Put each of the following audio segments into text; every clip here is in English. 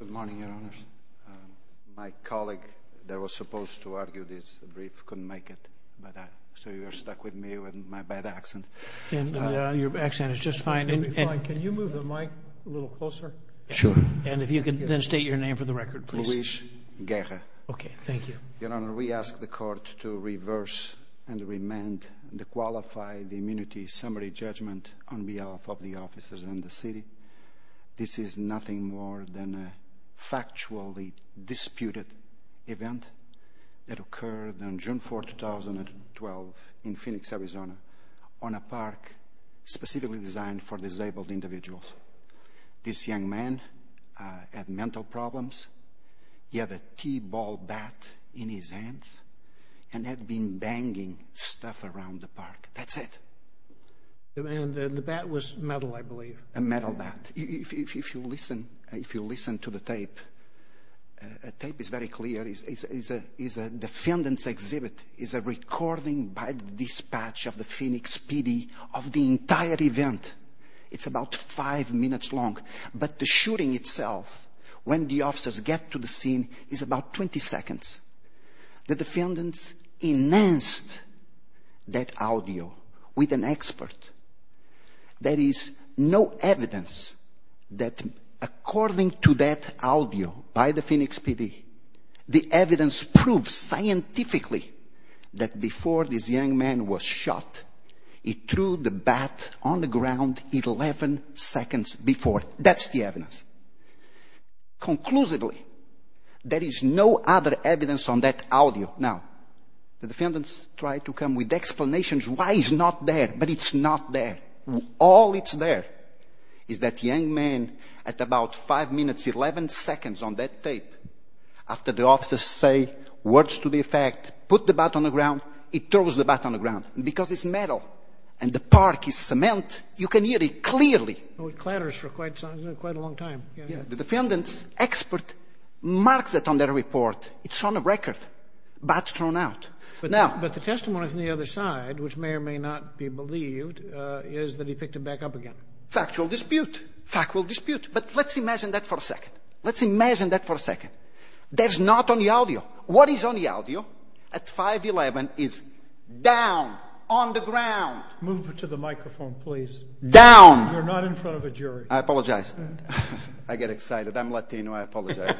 Good morning, Your Honors. My colleague that was supposed to argue this brief couldn't make it, so you're stuck with me with my bad accent. Your accent is just fine. Can you move the mic a little closer? Sure. And if you could then state your name for the record, please. Luis Guerra. Okay, thank you. Your Honor, we ask the Court to reverse and amend the Qualified Immunity Summary Judgment on behalf of the officers and the city. This is nothing more than a factually disputed event that occurred on June 4, 2012, in Phoenix, Arizona, on a park specifically designed for disabled individuals. This young man had mental problems. He had a t-ball bat in his hands and had been banging stuff around the park. That's it. And the bat was metal, I believe. A metal bat. If you listen to the tape, the tape is very clear. It's a defendant's exhibit. It's a recording by the dispatch of the Phoenix PD of the entire event. It's about five minutes long, but the shooting itself, when the officers get to the scene, is about 20 seconds. The defendants enhanced that audio with an expert. There is no evidence that according to that audio by the Phoenix PD, the evidence proves scientifically that before this young man was shot, he threw the bat on the ground 11 seconds before. That's the evidence. Conclusively, there is no other evidence on that audio. Now, the defendants try to come with explanations why it's not there, but it's not there. All that's there is that young man at about five minutes, 11 seconds on that tape, after the officers say words to the effect, put the bat on the ground, he throws the bat on the ground. And because it's metal and the park is cement, you can hear it clearly. It clatters for quite a long time. The defendant's expert marks it on their report. It's on the record. Bat thrown out. But the testimony from the other side, which may or may not be believed, is that he picked it back up again. Factual dispute. Factual dispute. But let's imagine that for a second. Let's imagine that for a second. That's not on the audio. What is on the audio at 511 is down on the ground. Move to the microphone, please. Down. You're not in front of a jury. I apologize. I get excited. I'm Latino. I apologize.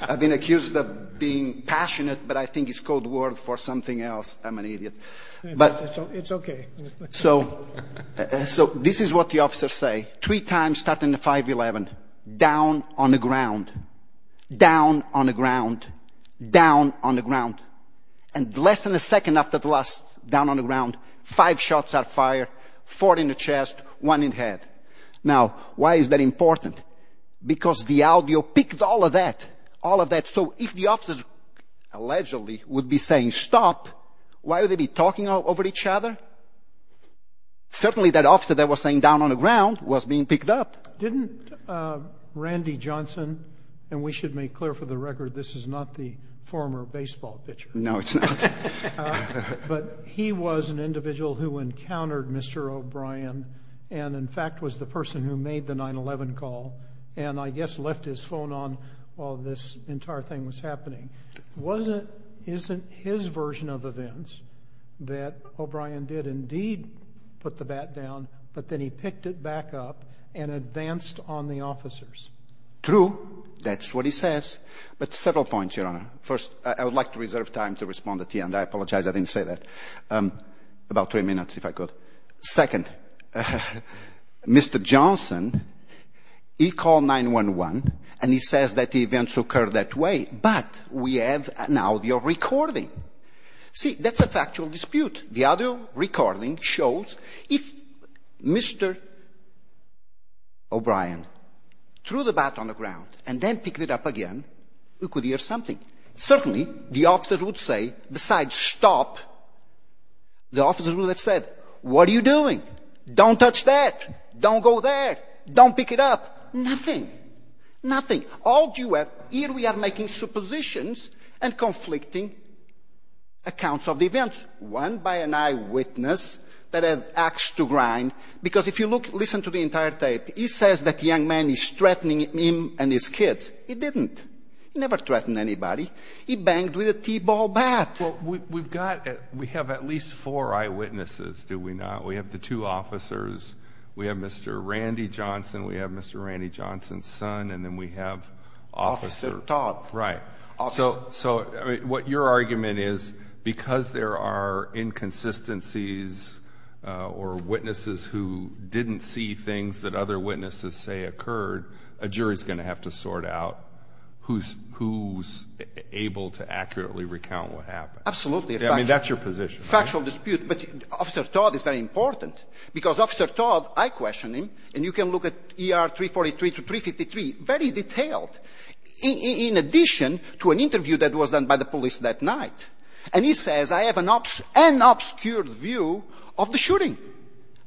I've been accused of being passionate, but I think it's code word for something else. I'm an idiot. It's okay. So, this is what the officers say. Three times starting at 511. Down on the ground. Down on the ground. Down on the ground. And less than a second after the last down on the ground, five shots are fired. Four in the chest. One in the head. Now, why is that important? Because the audio picked all of that. All of that. So, if the officers allegedly would be saying stop, why would they be talking over each other? Certainly, that officer that was saying down on the ground was being picked up. Didn't Randy Johnson, and we should make clear for the record this is not the former baseball pitcher. No, it's not. But he was an individual who encountered Mr. O'Brien and, in fact, was the person who made the 911 call and I guess left his phone on while this entire thing was happening. Wasn't, isn't his version of events that O'Brien did indeed put the bat down, but then he picked it back up and advanced on the officers? True. That's what he says. But several points, Your Honor. First, I would like to reserve time to respond at the end. I apologize. I didn't say that. About three minutes, if I could. Second, Mr. Johnson, he called 911 and he says that the events occurred that way, but we have an audio recording. See, that's a factual dispute. The audio recording shows if Mr. O'Brien threw the bat on the ground and then picked it up again, we could hear something. Certainly, the officers would say, besides stop, the officers would have said, what are you doing? Don't touch that. Don't go there. Don't pick it up. Nothing. Nothing. All you have, here we are making suppositions and conflicting accounts of the events, one by an eyewitness that had axed to grind, because if you look, listen to the entire tape, he says that young man is threatening him and his kids. He didn't. He never threatened anybody. He banged with a t-ball bat. Well, we've got at least four eyewitnesses, do we not? We have the two officers. We have Mr. Randy Johnson. We have Mr. Randy Johnson's son. And then we have officer. Officer Todd. Right. So what your argument is, because there are inconsistencies or witnesses who didn't see things that other witnesses say occurred, a jury's going to have to sort out who's able to accurately recount what happened. Absolutely. I mean, that's your position. Factual dispute. But Officer Todd is very important, because Officer Todd, I question him, and you can look at ER 343 to 353, very detailed, in addition to an interview that was done by the police that night. And he says, I have an obscured view of the shooting.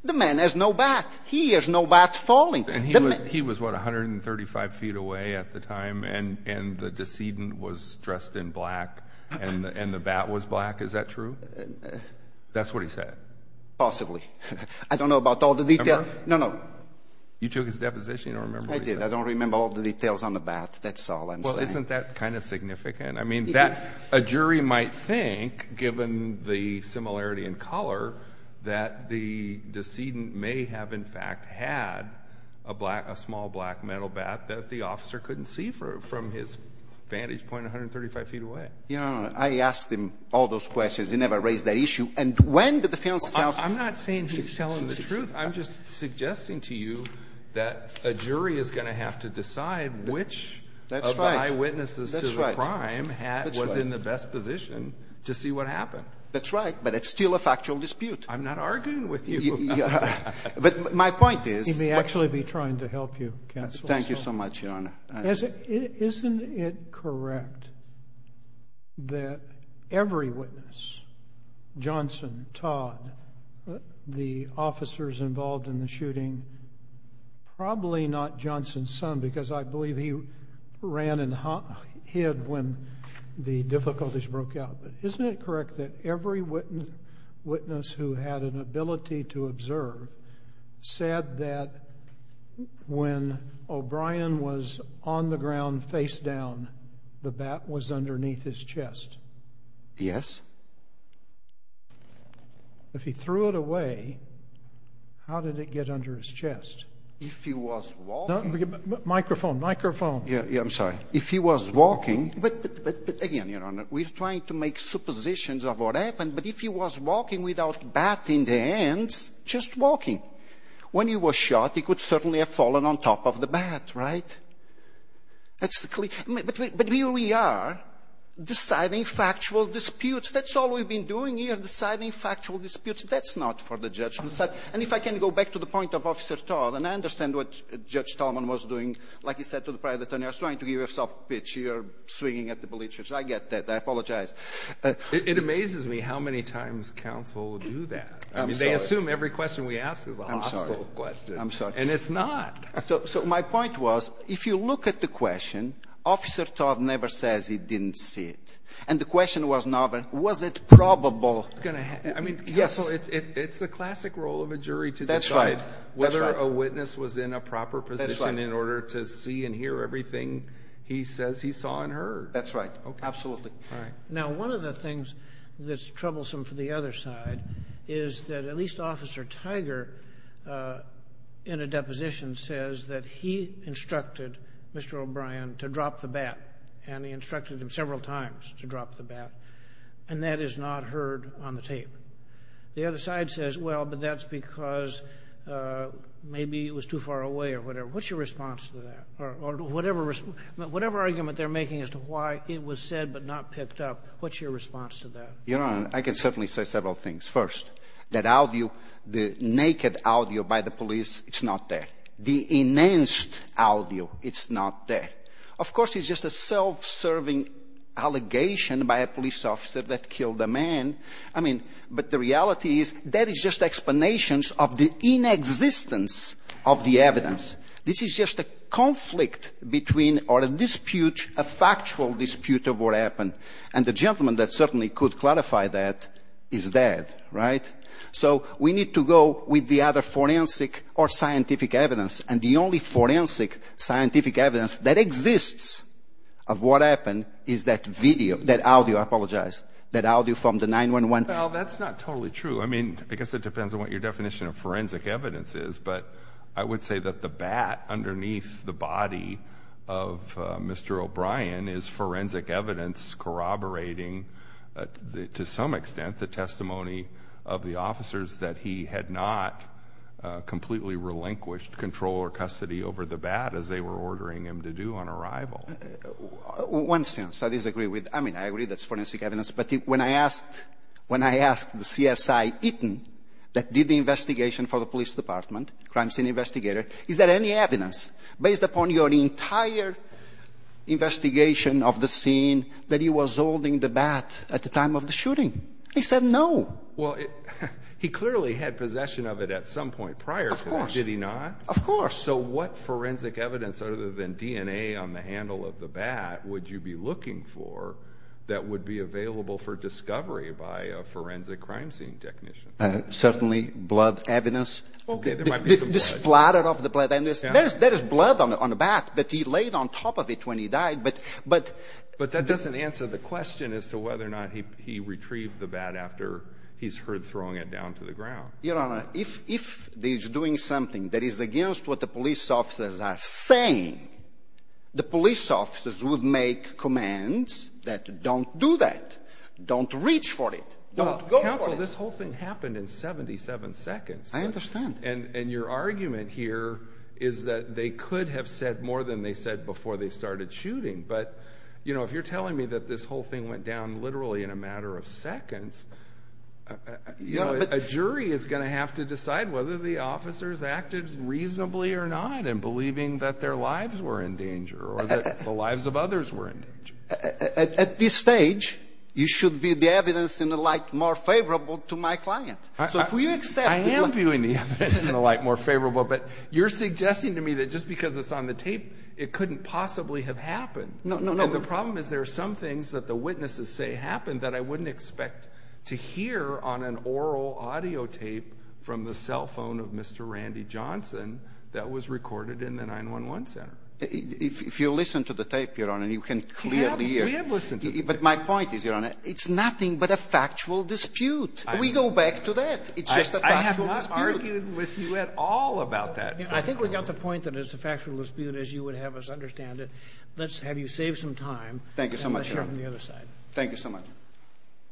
The man has no bat. He has no bat falling. And he was, what, 135 feet away at the time, and the decedent was dressed in black, and the bat was black. Is that true? That's what he said. Possibly. I don't know about all the details. Remember? No, no. You took his deposition. You don't remember what he said. I did. I don't remember all the details on the bat. That's all I'm saying. Well, isn't that kind of significant? I mean, a jury might think, given the similarity in color, that the decedent may have, in fact, had a small black metal bat that the officer couldn't see from his vantage point 135 feet away. No, no, no. I asked him all those questions. He never raised that issue. And when did the fiancé tell him? I'm not saying he's telling the truth. I'm just suggesting to you that a jury is going to have to decide which of the eyewitnesses to the crime was in the best position to see what happened. That's right. But it's still a factual dispute. I'm not arguing with you. But my point is. He may actually be trying to help you, Counsel. Thank you so much, Your Honor. Isn't it correct that every witness, Johnson, Todd, the officers involved in the shooting, probably not Johnson's son, because I believe he ran and hid when the difficulties broke out. But isn't it correct that every witness who had an ability to observe said that when O'Brien was on the ground face down, the bat was underneath his chest? Yes. If he threw it away, how did it get under his chest? If he was walking. Microphone, microphone. Yeah, I'm sorry. If he was walking. But again, Your Honor, we're trying to make suppositions of what happened. But if he was walking without bat in the hands, just walking. When he was shot, he could certainly have fallen on top of the bat, right? But here we are deciding factual disputes. That's all we've been doing here, deciding factual disputes. That's not for the judge to decide. And if I can go back to the point of Officer Todd, and I understand what Judge Tolman was doing. Like he said to the private attorney, I was trying to give you a soft pitch. You're swinging at the bleachers. I get that. I apologize. It amazes me how many times counsel do that. I mean, they assume every question we ask is a hostile question. I'm sorry. And it's not. So my point was, if you look at the question, Officer Todd never says he didn't see it. And the question was not, was it probable? It's the classic role of a jury to decide whether a witness was in a proper position in order to see and hear everything he says he saw and heard. That's right. Absolutely. Now, one of the things that's troublesome for the other side is that at least Officer Tiger, in a deposition, says that he instructed Mr. O'Brien to drop the bat. And he instructed him several times to drop the bat. And that is not heard on the tape. The other side says, well, but that's because maybe it was too far away or whatever. What's your response to that? Or whatever argument they're making as to why it was said but not picked up, what's your response to that? Your Honor, I can certainly say several things. First, that audio, the naked audio by the police, it's not there. The enhanced audio, it's not there. Of course, it's just a self-serving allegation by a police officer that killed a man. I mean, but the reality is that is just explanations of the inexistence of the evidence. This is just a conflict between or a dispute, a factual dispute of what happened. And the gentleman that certainly could clarify that is dead, right? So we need to go with the other forensic or scientific evidence. And the only forensic scientific evidence that exists of what happened is that video, that audio. I apologize. That audio from the 9-1-1. Well, that's not totally true. I mean, I guess it depends on what your definition of forensic evidence is. But I would say that the bat underneath the body of Mr. O'Brien is forensic evidence corroborating, to some extent, the testimony of the officers that he had not completely relinquished control or custody over the bat, as they were ordering him to do on arrival. One sentence I disagree with. I mean, I agree that's forensic evidence. But when I asked the CSI, Eaton, that did the investigation for the police department, crime scene investigator, is there any evidence based upon your entire investigation of the scene that he was holding the bat at the time of the shooting? He said no. Well, he clearly had possession of it at some point prior to that. Of course. Did he not? Of course. So what forensic evidence other than DNA on the handle of the bat would you be looking for that would be available for discovery by a forensic crime scene technician? Certainly blood evidence. Okay. There might be some blood. The splatter of the blood. There is blood on the bat, but he laid on top of it when he died. But that doesn't answer the question as to whether or not he retrieved the bat after he's heard throwing it down to the ground. Your Honor, if he's doing something that is against what the police officers are saying, the police officers would make commands that don't do that. Don't reach for it. Don't go for it. Counsel, this whole thing happened in 77 seconds. I understand. And your argument here is that they could have said more than they said before they started shooting. But, you know, if you're telling me that this whole thing went down literally in a matter of seconds, you know, a jury is going to have to decide whether the officers acted reasonably or not in believing that their lives were in danger or that the lives of others were in danger. At this stage, you should view the evidence in the light more favorable to my client. I am viewing the evidence in the light more favorable, but you're suggesting to me that just because it's on the tape, it couldn't possibly have happened. No, no, no. The problem is there are some things that the witnesses say happened that I wouldn't expect to hear on an oral audio tape from the cell phone of Mr. Randy Johnson that was recorded in the 911 center. If you listen to the tape, Your Honor, you can clearly hear. We have listened to the tape. But my point is, Your Honor, it's nothing but a factual dispute. We go back to that. It's just a factual dispute. I have not argued with you at all about that. I think we got the point that it's a factual dispute, as you would have us understand it. Let's have you save some time. Thank you so much, Your Honor. And let's hear from the other side. Thank you so much.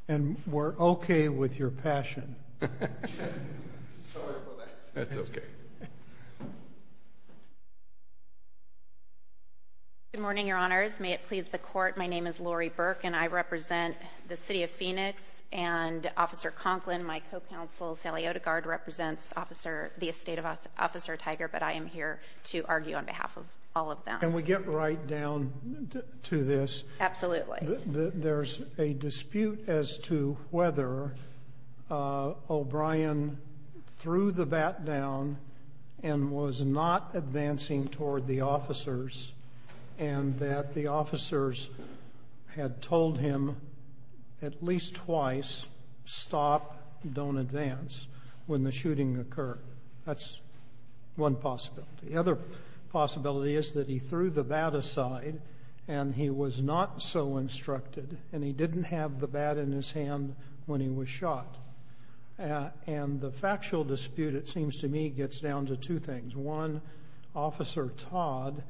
And we're okay with your passion. That's okay. Good morning, Your Honors. May it please the Court. My name is Lori Burke, and I represent the City of Phoenix and Officer Conklin. My co-counsel, Sally Odegaard, represents the estate of Officer Tiger, but I am here to argue on behalf of all of them. Can we get right down to this? Absolutely. There's a dispute as to whether O'Brien threw the bat down and was not advancing toward the officers, and that the officers had told him at least twice, stop, don't advance, when the shooting occurred. That's one possibility. The other possibility is that he threw the bat aside, and he was not so instructed, and he didn't have the bat in his hand when he was shot. And the factual dispute, it seems to me, gets down to two things. One, Officer Todd,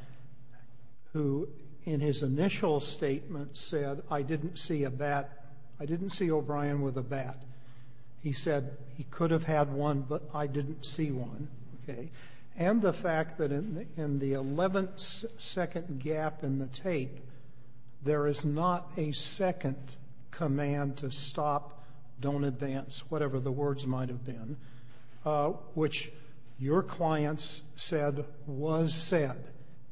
who in his initial statement said, I didn't see O'Brien with a bat. He said, he could have had one, but I didn't see one. And the fact that in the 11th second gap in the tape, there is not a second command to stop, don't advance, whatever the words might have been, which your clients said was said.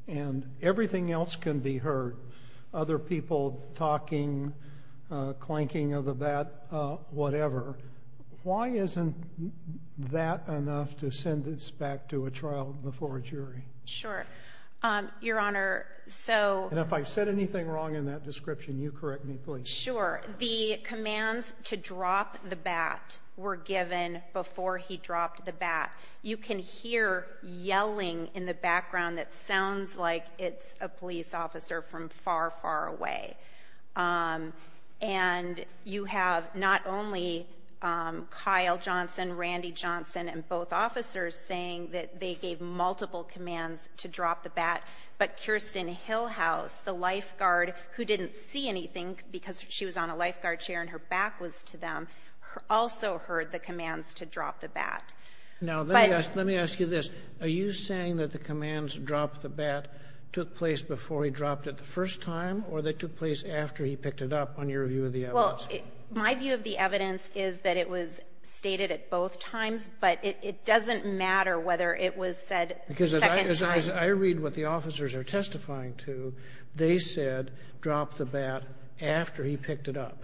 And everything else can be heard. Other people talking, clanking of the bat, whatever. Why isn't that enough to send this back to a trial before a jury? Sure. Your Honor, so... And if I said anything wrong in that description, you correct me, please. Sure. The commands to drop the bat were given before he dropped the bat. You can hear yelling in the background that sounds like it's a police officer from far, far away. And you have not only Kyle Johnson, Randy Johnson, and both officers saying that they gave multiple commands to drop the bat, but Kirsten Hillhouse, the lifeguard who didn't see anything because she was on a lifeguard chair and her back was to them, also heard the commands to drop the bat. Now, let me ask you this. Are you saying that the commands to drop the bat took place before he dropped it the first time or they took place after he picked it up on your view of the evidence? Well, my view of the evidence is that it was stated at both times, but it doesn't matter whether it was said second time. Because as I read what the officers are testifying to, they said drop the bat after he picked it up.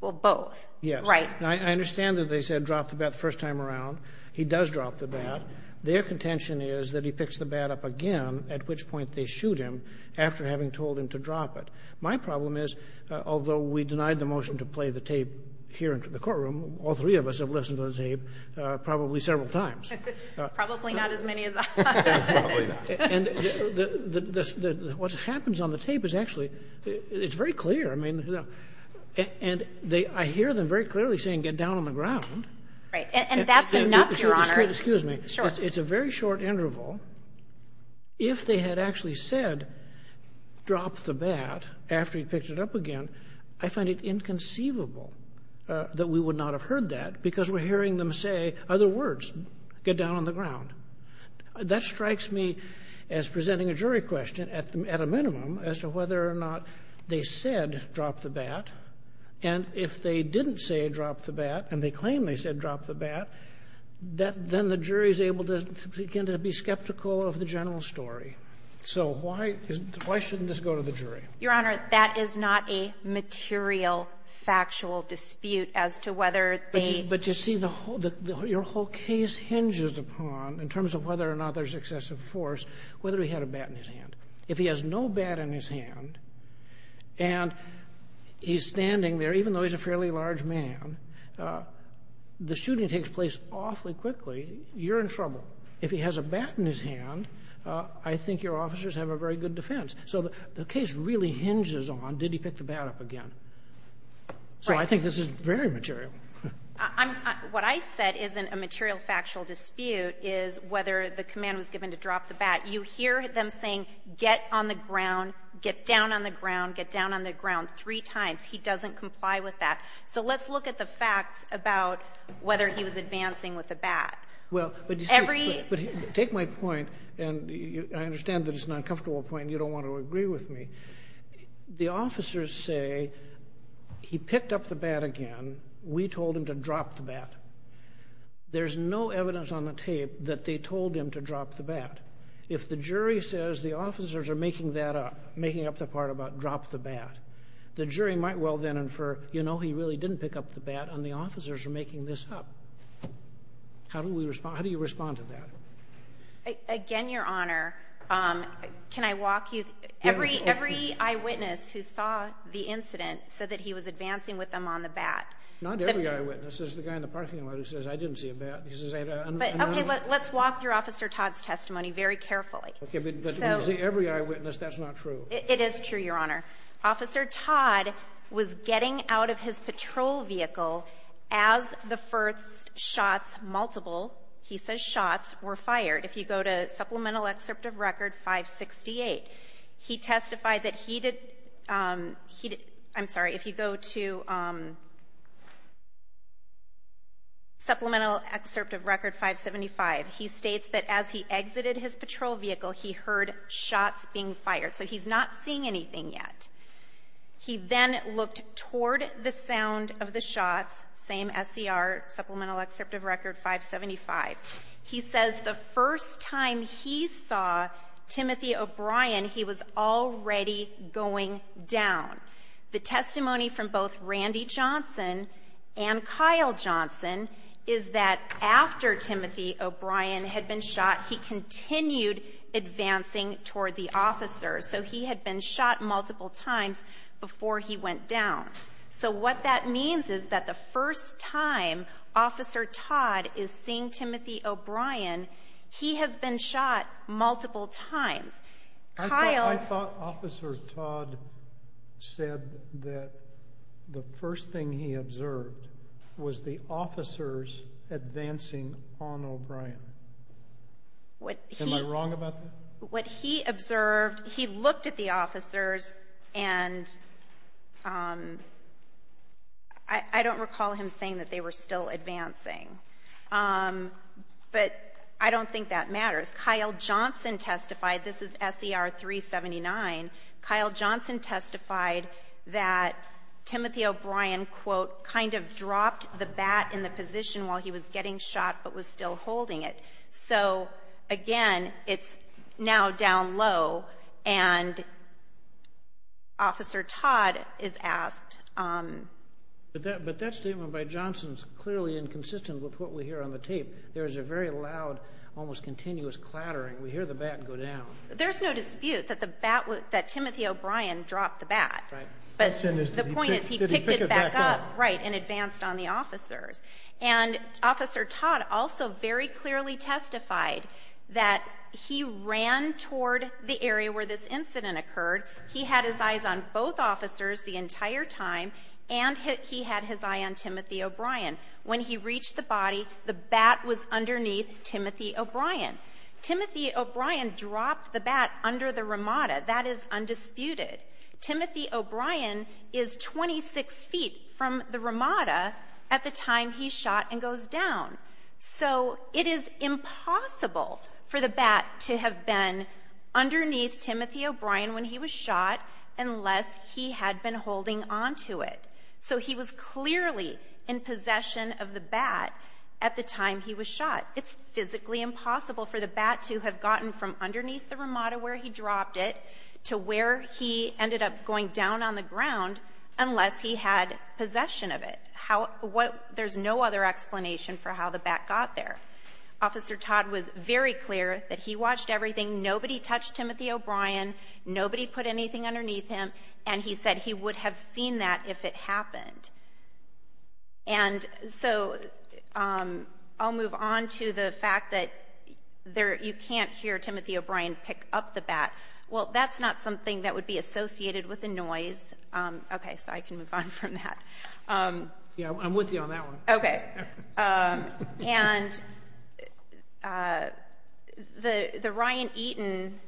Well, both. Yes. Right. I understand that they said drop the bat the first time around. He does drop the bat. Their contention is that he picks the bat up again, at which point they shoot him after having told him to drop it. My problem is, although we denied the motion to play the tape here into the courtroom, all three of us have listened to the tape probably several times. Probably not as many as us. Probably not. And what happens on the tape is actually, it's very clear. I mean, and I hear them very clearly saying get down on the ground. Right. And that's enough, Your Honor. Excuse me. Sure. It's a very short interval. If they had actually said drop the bat after he picked it up again, I find it inconceivable that we would not have heard that because we're hearing them say other words, get down on the ground. That strikes me as presenting a jury question at a minimum as to whether or not they said drop the bat. And if they didn't say drop the bat and they claim they said drop the bat, then the jury is able to begin to be skeptical of the general story. So why shouldn't this go to the jury? Your Honor, that is not a material, factual dispute as to whether they ---- But you see, your whole case hinges upon, in terms of whether or not there's excessive force, whether he had a bat in his hand. If he has no bat in his hand and he's standing there, even though he's a fairly large man, the shooting takes place awfully quickly, you're in trouble. If he has a bat in his hand, I think your officers have a very good defense. So the case really hinges on did he pick the bat up again. So I think this is very material. What I said isn't a material, factual dispute is whether the command was given to drop the bat. You hear them saying get on the ground, get down on the ground, get down on the ground three times. He doesn't comply with that. So let's look at the facts about whether he was advancing with the bat. Well, but you see, take my point, and I understand that it's an uncomfortable point and you don't want to agree with me. The officers say he picked up the bat again. We told him to drop the bat. There's no evidence on the tape that they told him to drop the bat. If the jury says the officers are making that up, making up the part about drop the bat, the jury might well then infer, you know, he really didn't pick up the bat and the officers are making this up. How do we respond? How do you respond to that? Again, Your Honor, can I walk you? Every eyewitness who saw the incident said that he was advancing with them on the bat. Not every eyewitness. There's the guy in the parking lot who says I didn't see a bat. Okay, let's walk through Officer Todd's testimony very carefully. Okay, but every eyewitness, that's not true. It is true, Your Honor. Officer Todd was getting out of his patrol vehicle as the first shots, multiple, he says shots, were fired. If you go to Supplemental Excerpt of Record 568, he testified that he did, I'm sorry, if you go to Supplemental Excerpt of Record 575, he states that as he exited his patrol vehicle, he heard shots being fired. So he's not seeing anything yet. He then looked toward the sound of the shots, same SCR, Supplemental Excerpt of Record 575. He says the first time he saw Timothy O'Brien, he was already going down. The testimony from both Randy Johnson and Kyle Johnson is that after Timothy O'Brien had been shot, he continued advancing toward the officer. So he had been shot multiple times before he went down. So what that means is that the first time Officer Todd is seeing Timothy O'Brien, he has been shot multiple times. I thought Officer Todd said that the first thing he observed was the officers advancing on O'Brien. Am I wrong about that? What he observed, he looked at the officers and I don't recall him saying that they were still advancing. But I don't think that matters. Kyle Johnson testified. This is SCR 379. Kyle Johnson testified that Timothy O'Brien, quote, kind of dropped the bat in the position while he was getting shot but was still holding it. So, again, it's now down low and Officer Todd is asked. But that statement by Johnson is clearly inconsistent with what we hear on the tape. There is a very loud, almost continuous clattering. We hear the bat go down. There's no dispute that Timothy O'Brien dropped the bat. But the point is he picked it back up and advanced on the officers. And Officer Todd also very clearly testified that he ran toward the area where this incident occurred. He had his eyes on both officers the entire time and he had his eye on Timothy O'Brien. When he reached the body, the bat was underneath Timothy O'Brien. Timothy O'Brien dropped the bat under the ramada. That is undisputed. Timothy O'Brien is 26 feet from the ramada at the time he shot and goes down. So it is impossible for the bat to have been underneath Timothy O'Brien when he was shot unless he had been holding onto it. So he was clearly in possession of the bat at the time he was shot. It's physically impossible for the bat to have gotten from underneath the ramada where he dropped it to where he ended up going down on the ground unless he had possession of it. There's no other explanation for how the bat got there. Officer Todd was very clear that he watched everything. Nobody touched Timothy O'Brien. Nobody put anything underneath him. And he said he would have seen that if it happened. And so I'll move on to the fact that you can't hear Timothy O'Brien pick up the bat. Well, that's not something that would be associated with the noise. Okay, so I can move on from that. Yeah, I'm with you on that one. Okay. And the Ryan Eaton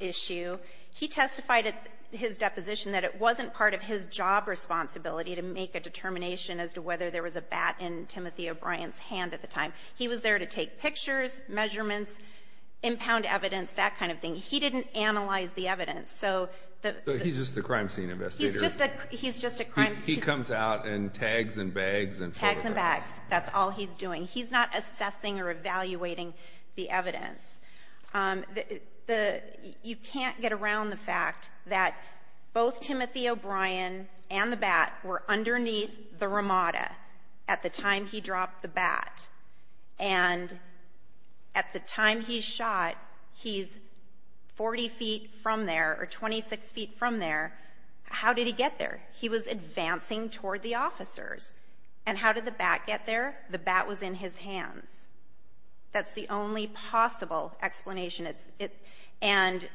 issue, he testified at his deposition that it wasn't part of his job responsibility to make a determination as to whether there was a bat in Timothy O'Brien's hand at the time. He was there to take pictures, measurements, impound evidence, that kind of thing. He didn't analyze the evidence. So he's just the crime scene investigator. He's just a crime scene investigator. He comes out in tags and bags. Tags and bags. That's all he's doing. He's not assessing or evaluating the evidence. You can't get around the fact that both Timothy O'Brien and the bat were underneath the Ramada at the time he dropped the bat. And at the time he shot, he's 40 feet from there or 26 feet from there. How did he get there? He was advancing toward the officers. And how did the bat get there? The bat was in his hands. That's the only possible explanation. And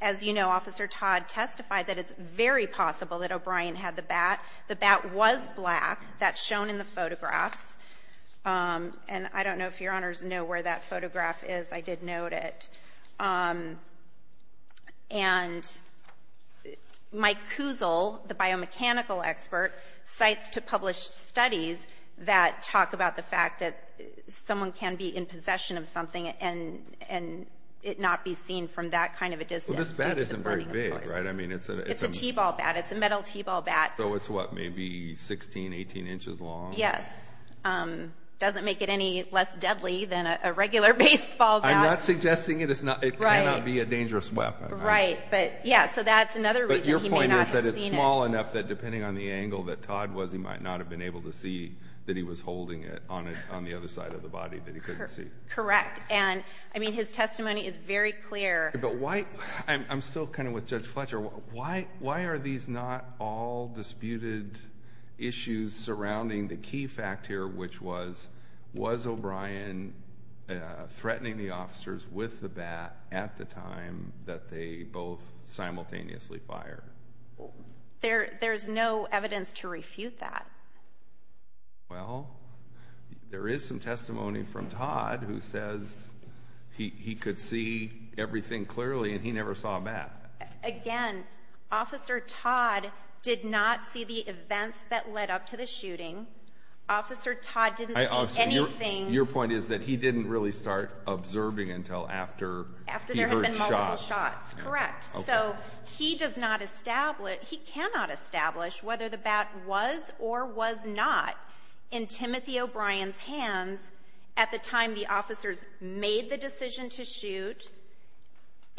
as you know, Officer Todd testified that it's very possible that O'Brien had the bat. The bat was black. That's shown in the photographs. And I don't know if Your Honors know where that photograph is. I did note it. And Mike Kuzel, the biomechanical expert, cites to published studies that talk about the fact that someone can be in possession of something and it not be seen from that kind of a distance. Well, this bat isn't very big, right? It's a t-ball bat. It's a metal t-ball bat. So it's, what, maybe 16, 18 inches long? Yes. Doesn't make it any less deadly than a regular baseball bat. I'm not suggesting it cannot be a dangerous weapon. Right. But, yeah, so that's another reason he may not have seen it. But your point is that it's small enough that depending on the angle that Todd was, he might not have been able to see that he was holding it on the other side of the body that he couldn't see. Correct. And, I mean, his testimony is very clear. But why, I'm still kind of with Judge Fletcher, why are these not all disputed issues surrounding the key fact here, which was, was O'Brien threatening the officers with the bat at the time that they both simultaneously fired? There's no evidence to refute that. Well, there is some testimony from Todd who says he could see everything clearly and he never saw a bat. Again, Officer Todd did not see the events that led up to the shooting. Officer Todd didn't see anything. Your point is that he didn't really start observing until after he heard shots. After there had been multiple shots. Correct. So he does not establish, he cannot establish whether the bat was or was not in Timothy O'Brien's hands at the time the officers made the decision to shoot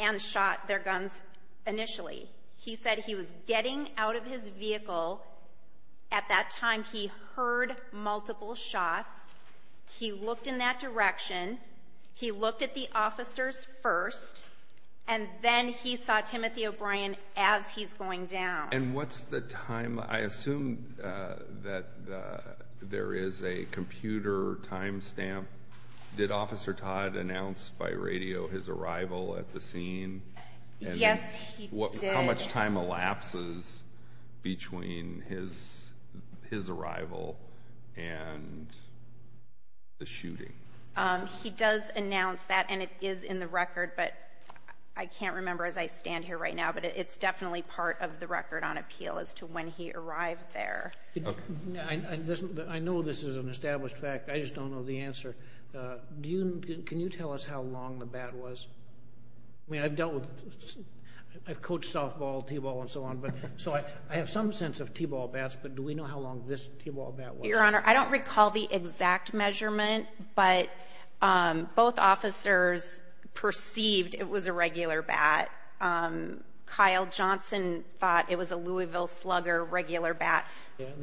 and shot their guns initially. He said he was getting out of his vehicle, at that time he heard multiple shots, he looked in that direction, he looked at the officers first, and then he saw Timothy O'Brien as he's going down. And what's the time, I assume that there is a computer time stamp. Did Officer Todd announce by radio his arrival at the scene? Yes, he did. How much time elapses between his arrival and the shooting? He does announce that and it is in the record, but I can't remember as I stand here right now, but it's definitely part of the record on appeal as to when he arrived there. I know this is an established fact, I just don't know the answer. Can you tell us how long the bat was? I mean, I've dealt with, I've coached softball, t-ball, and so on, so I have some sense of t-ball bats, but do we know how long this t-ball bat was? Your Honor, I don't recall the exact measurement, but both officers perceived it was a regular bat. Kyle Johnson thought it was a Louisville Slugger regular bat.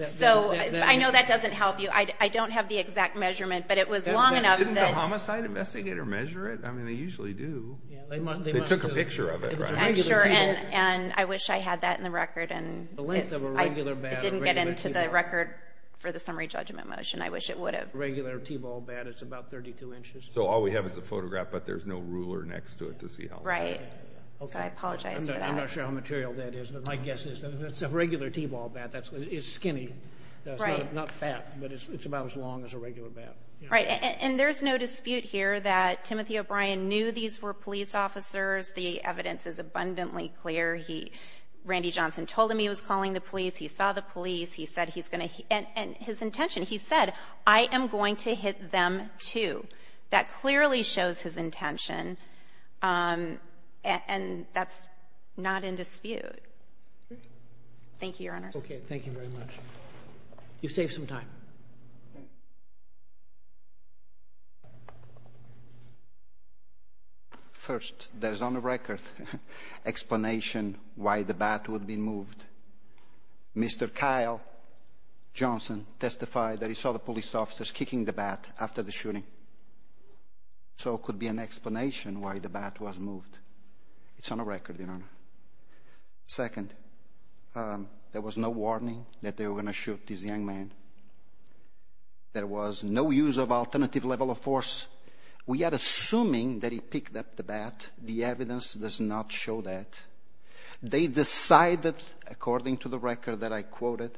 So I know that doesn't help you. I don't have the exact measurement, but it was long enough. Didn't the homicide investigator measure it? I mean, they usually do. They took a picture of it, right? I'm sure, and I wish I had that in the record. The length of a regular bat, a regular t-ball. It didn't get into the record for the summary judgment motion. I wish it would have. A regular t-ball bat is about 32 inches. So all we have is a photograph, but there's no ruler next to it to see how long it is. Right. So I apologize for that. I'm not sure how material that is, but my guess is. It's a regular t-ball bat. It's skinny. It's not fat, but it's about as long as a regular bat. Right, and there's no dispute here that Timothy O'Brien knew these were police officers. The evidence is abundantly clear. Randy Johnson told him he was calling the police. He saw the police. He said he's going to, and his intention, he said, I am going to hit them, too. That clearly shows his intention, and that's not in dispute. Thank you, Your Honors. Okay. Thank you very much. You saved some time. First, there's on the record explanation why the bat would be moved. Mr. Kyle Johnson testified that he saw the police officers kicking the bat after the shooting, so it could be an explanation why the bat was moved. It's on the record, Your Honor. Second, there was no warning that they were going to shoot this young man. There was no use of alternative level of force. We are assuming that he picked up the bat. The evidence does not show that. They decided, according to the record that I quoted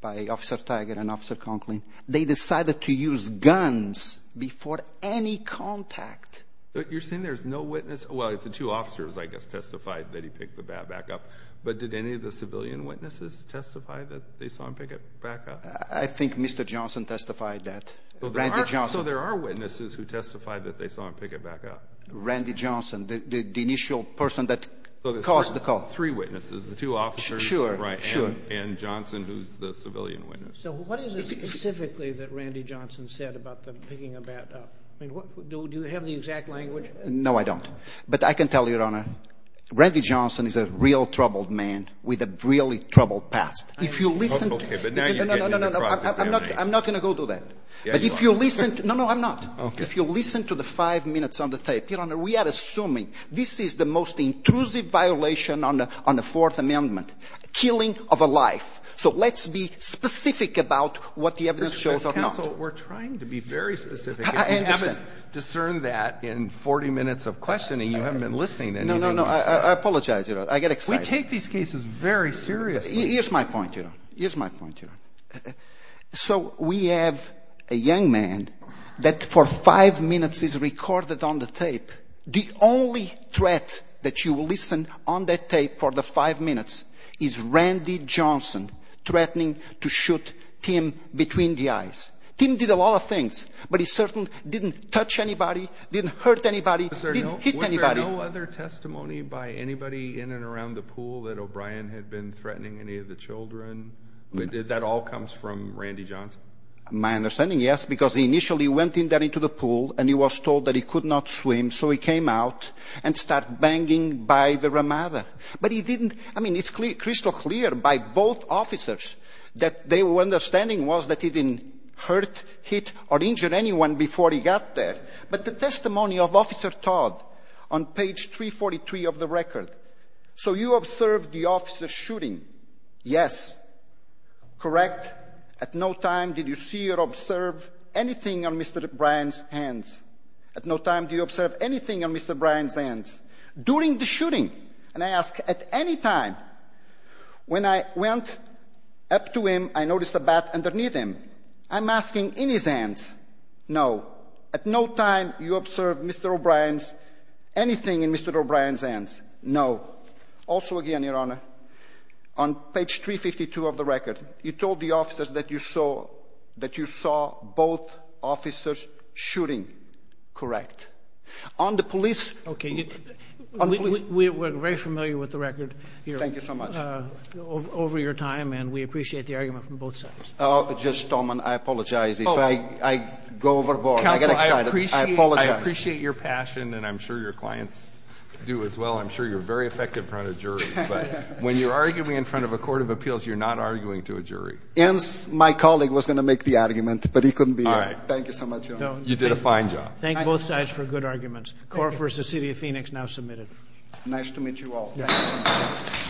by Officer Tiger and Officer Conklin, they decided to use guns before any contact. You're saying there's no witness? Well, the two officers, I guess, testified that he picked the bat back up, but did any of the civilian witnesses testify that they saw him pick it back up? I think Mr. Johnson testified that, Randy Johnson. So there are witnesses who testified that they saw him pick it back up. Randy Johnson, the initial person that caused the call. So there's three witnesses, the two officers. Sure, sure. And Johnson, who's the civilian witness. So what is it specifically that Randy Johnson said about them picking a bat up? Do you have the exact language? No, I don't. But I can tell you, Your Honor, Randy Johnson is a real troubled man with a really troubled past. Okay, but now you're getting into cross-examination. No, no, no, I'm not going to go do that. Yeah, you are. No, no, I'm not. Okay. So listen to the five minutes on the tape. Your Honor, we are assuming this is the most intrusive violation on the Fourth Amendment, killing of a life. So let's be specific about what the evidence shows or not. Counsel, we're trying to be very specific. I understand. If you haven't discerned that in 40 minutes of questioning, you haven't been listening to anything. No, no, no, I apologize, Your Honor. I get excited. We take these cases very seriously. Here's my point, Your Honor. Here's my point, Your Honor. So we have a young man that for five minutes is recorded on the tape. The only threat that you will listen on that tape for the five minutes is Randy Johnson threatening to shoot Tim between the eyes. Tim did a lot of things, but he certainly didn't touch anybody, didn't hurt anybody, didn't hit anybody. Was there no other testimony by anybody in and around the pool that O'Brien had been threatening any of the children? That all comes from Randy Johnson. My understanding, yes, because he initially went in there into the pool and he was told that he could not swim, so he came out and started banging by the ramada. But he didn't – I mean, it's crystal clear by both officers that their understanding was that he didn't hurt, hit, or injure anyone before he got there. But the testimony of Officer Todd on page 343 of the record, so you observed the officer shooting. Yes. Correct. At no time did you see or observe anything on Mr. O'Brien's hands. At no time do you observe anything on Mr. O'Brien's hands during the shooting. And I ask at any time. When I went up to him, I noticed a bat underneath him. I'm asking in his hands. No. At no time do you observe Mr. O'Brien's – anything in Mr. O'Brien's hands. No. Also, again, Your Honor, on page 352 of the record, you told the officers that you saw both officers shooting. Correct. On the police – Okay. We're very familiar with the record here. Thank you so much. Over your time, and we appreciate the argument from both sides. Judge Stallman, I apologize if I go overboard. I get excited. I apologize. Counsel, I appreciate your passion, and I'm sure your clients do as well. I'm sure you're very effective in front of juries. But when you're arguing in front of a court of appeals, you're not arguing to a jury. And my colleague was going to make the argument, but he couldn't be here. All right. Thank you so much, Your Honor. You did a fine job. Thank both sides for good arguments. Korf v. City of Phoenix, now submitted. Nice to meet you all. Thank you.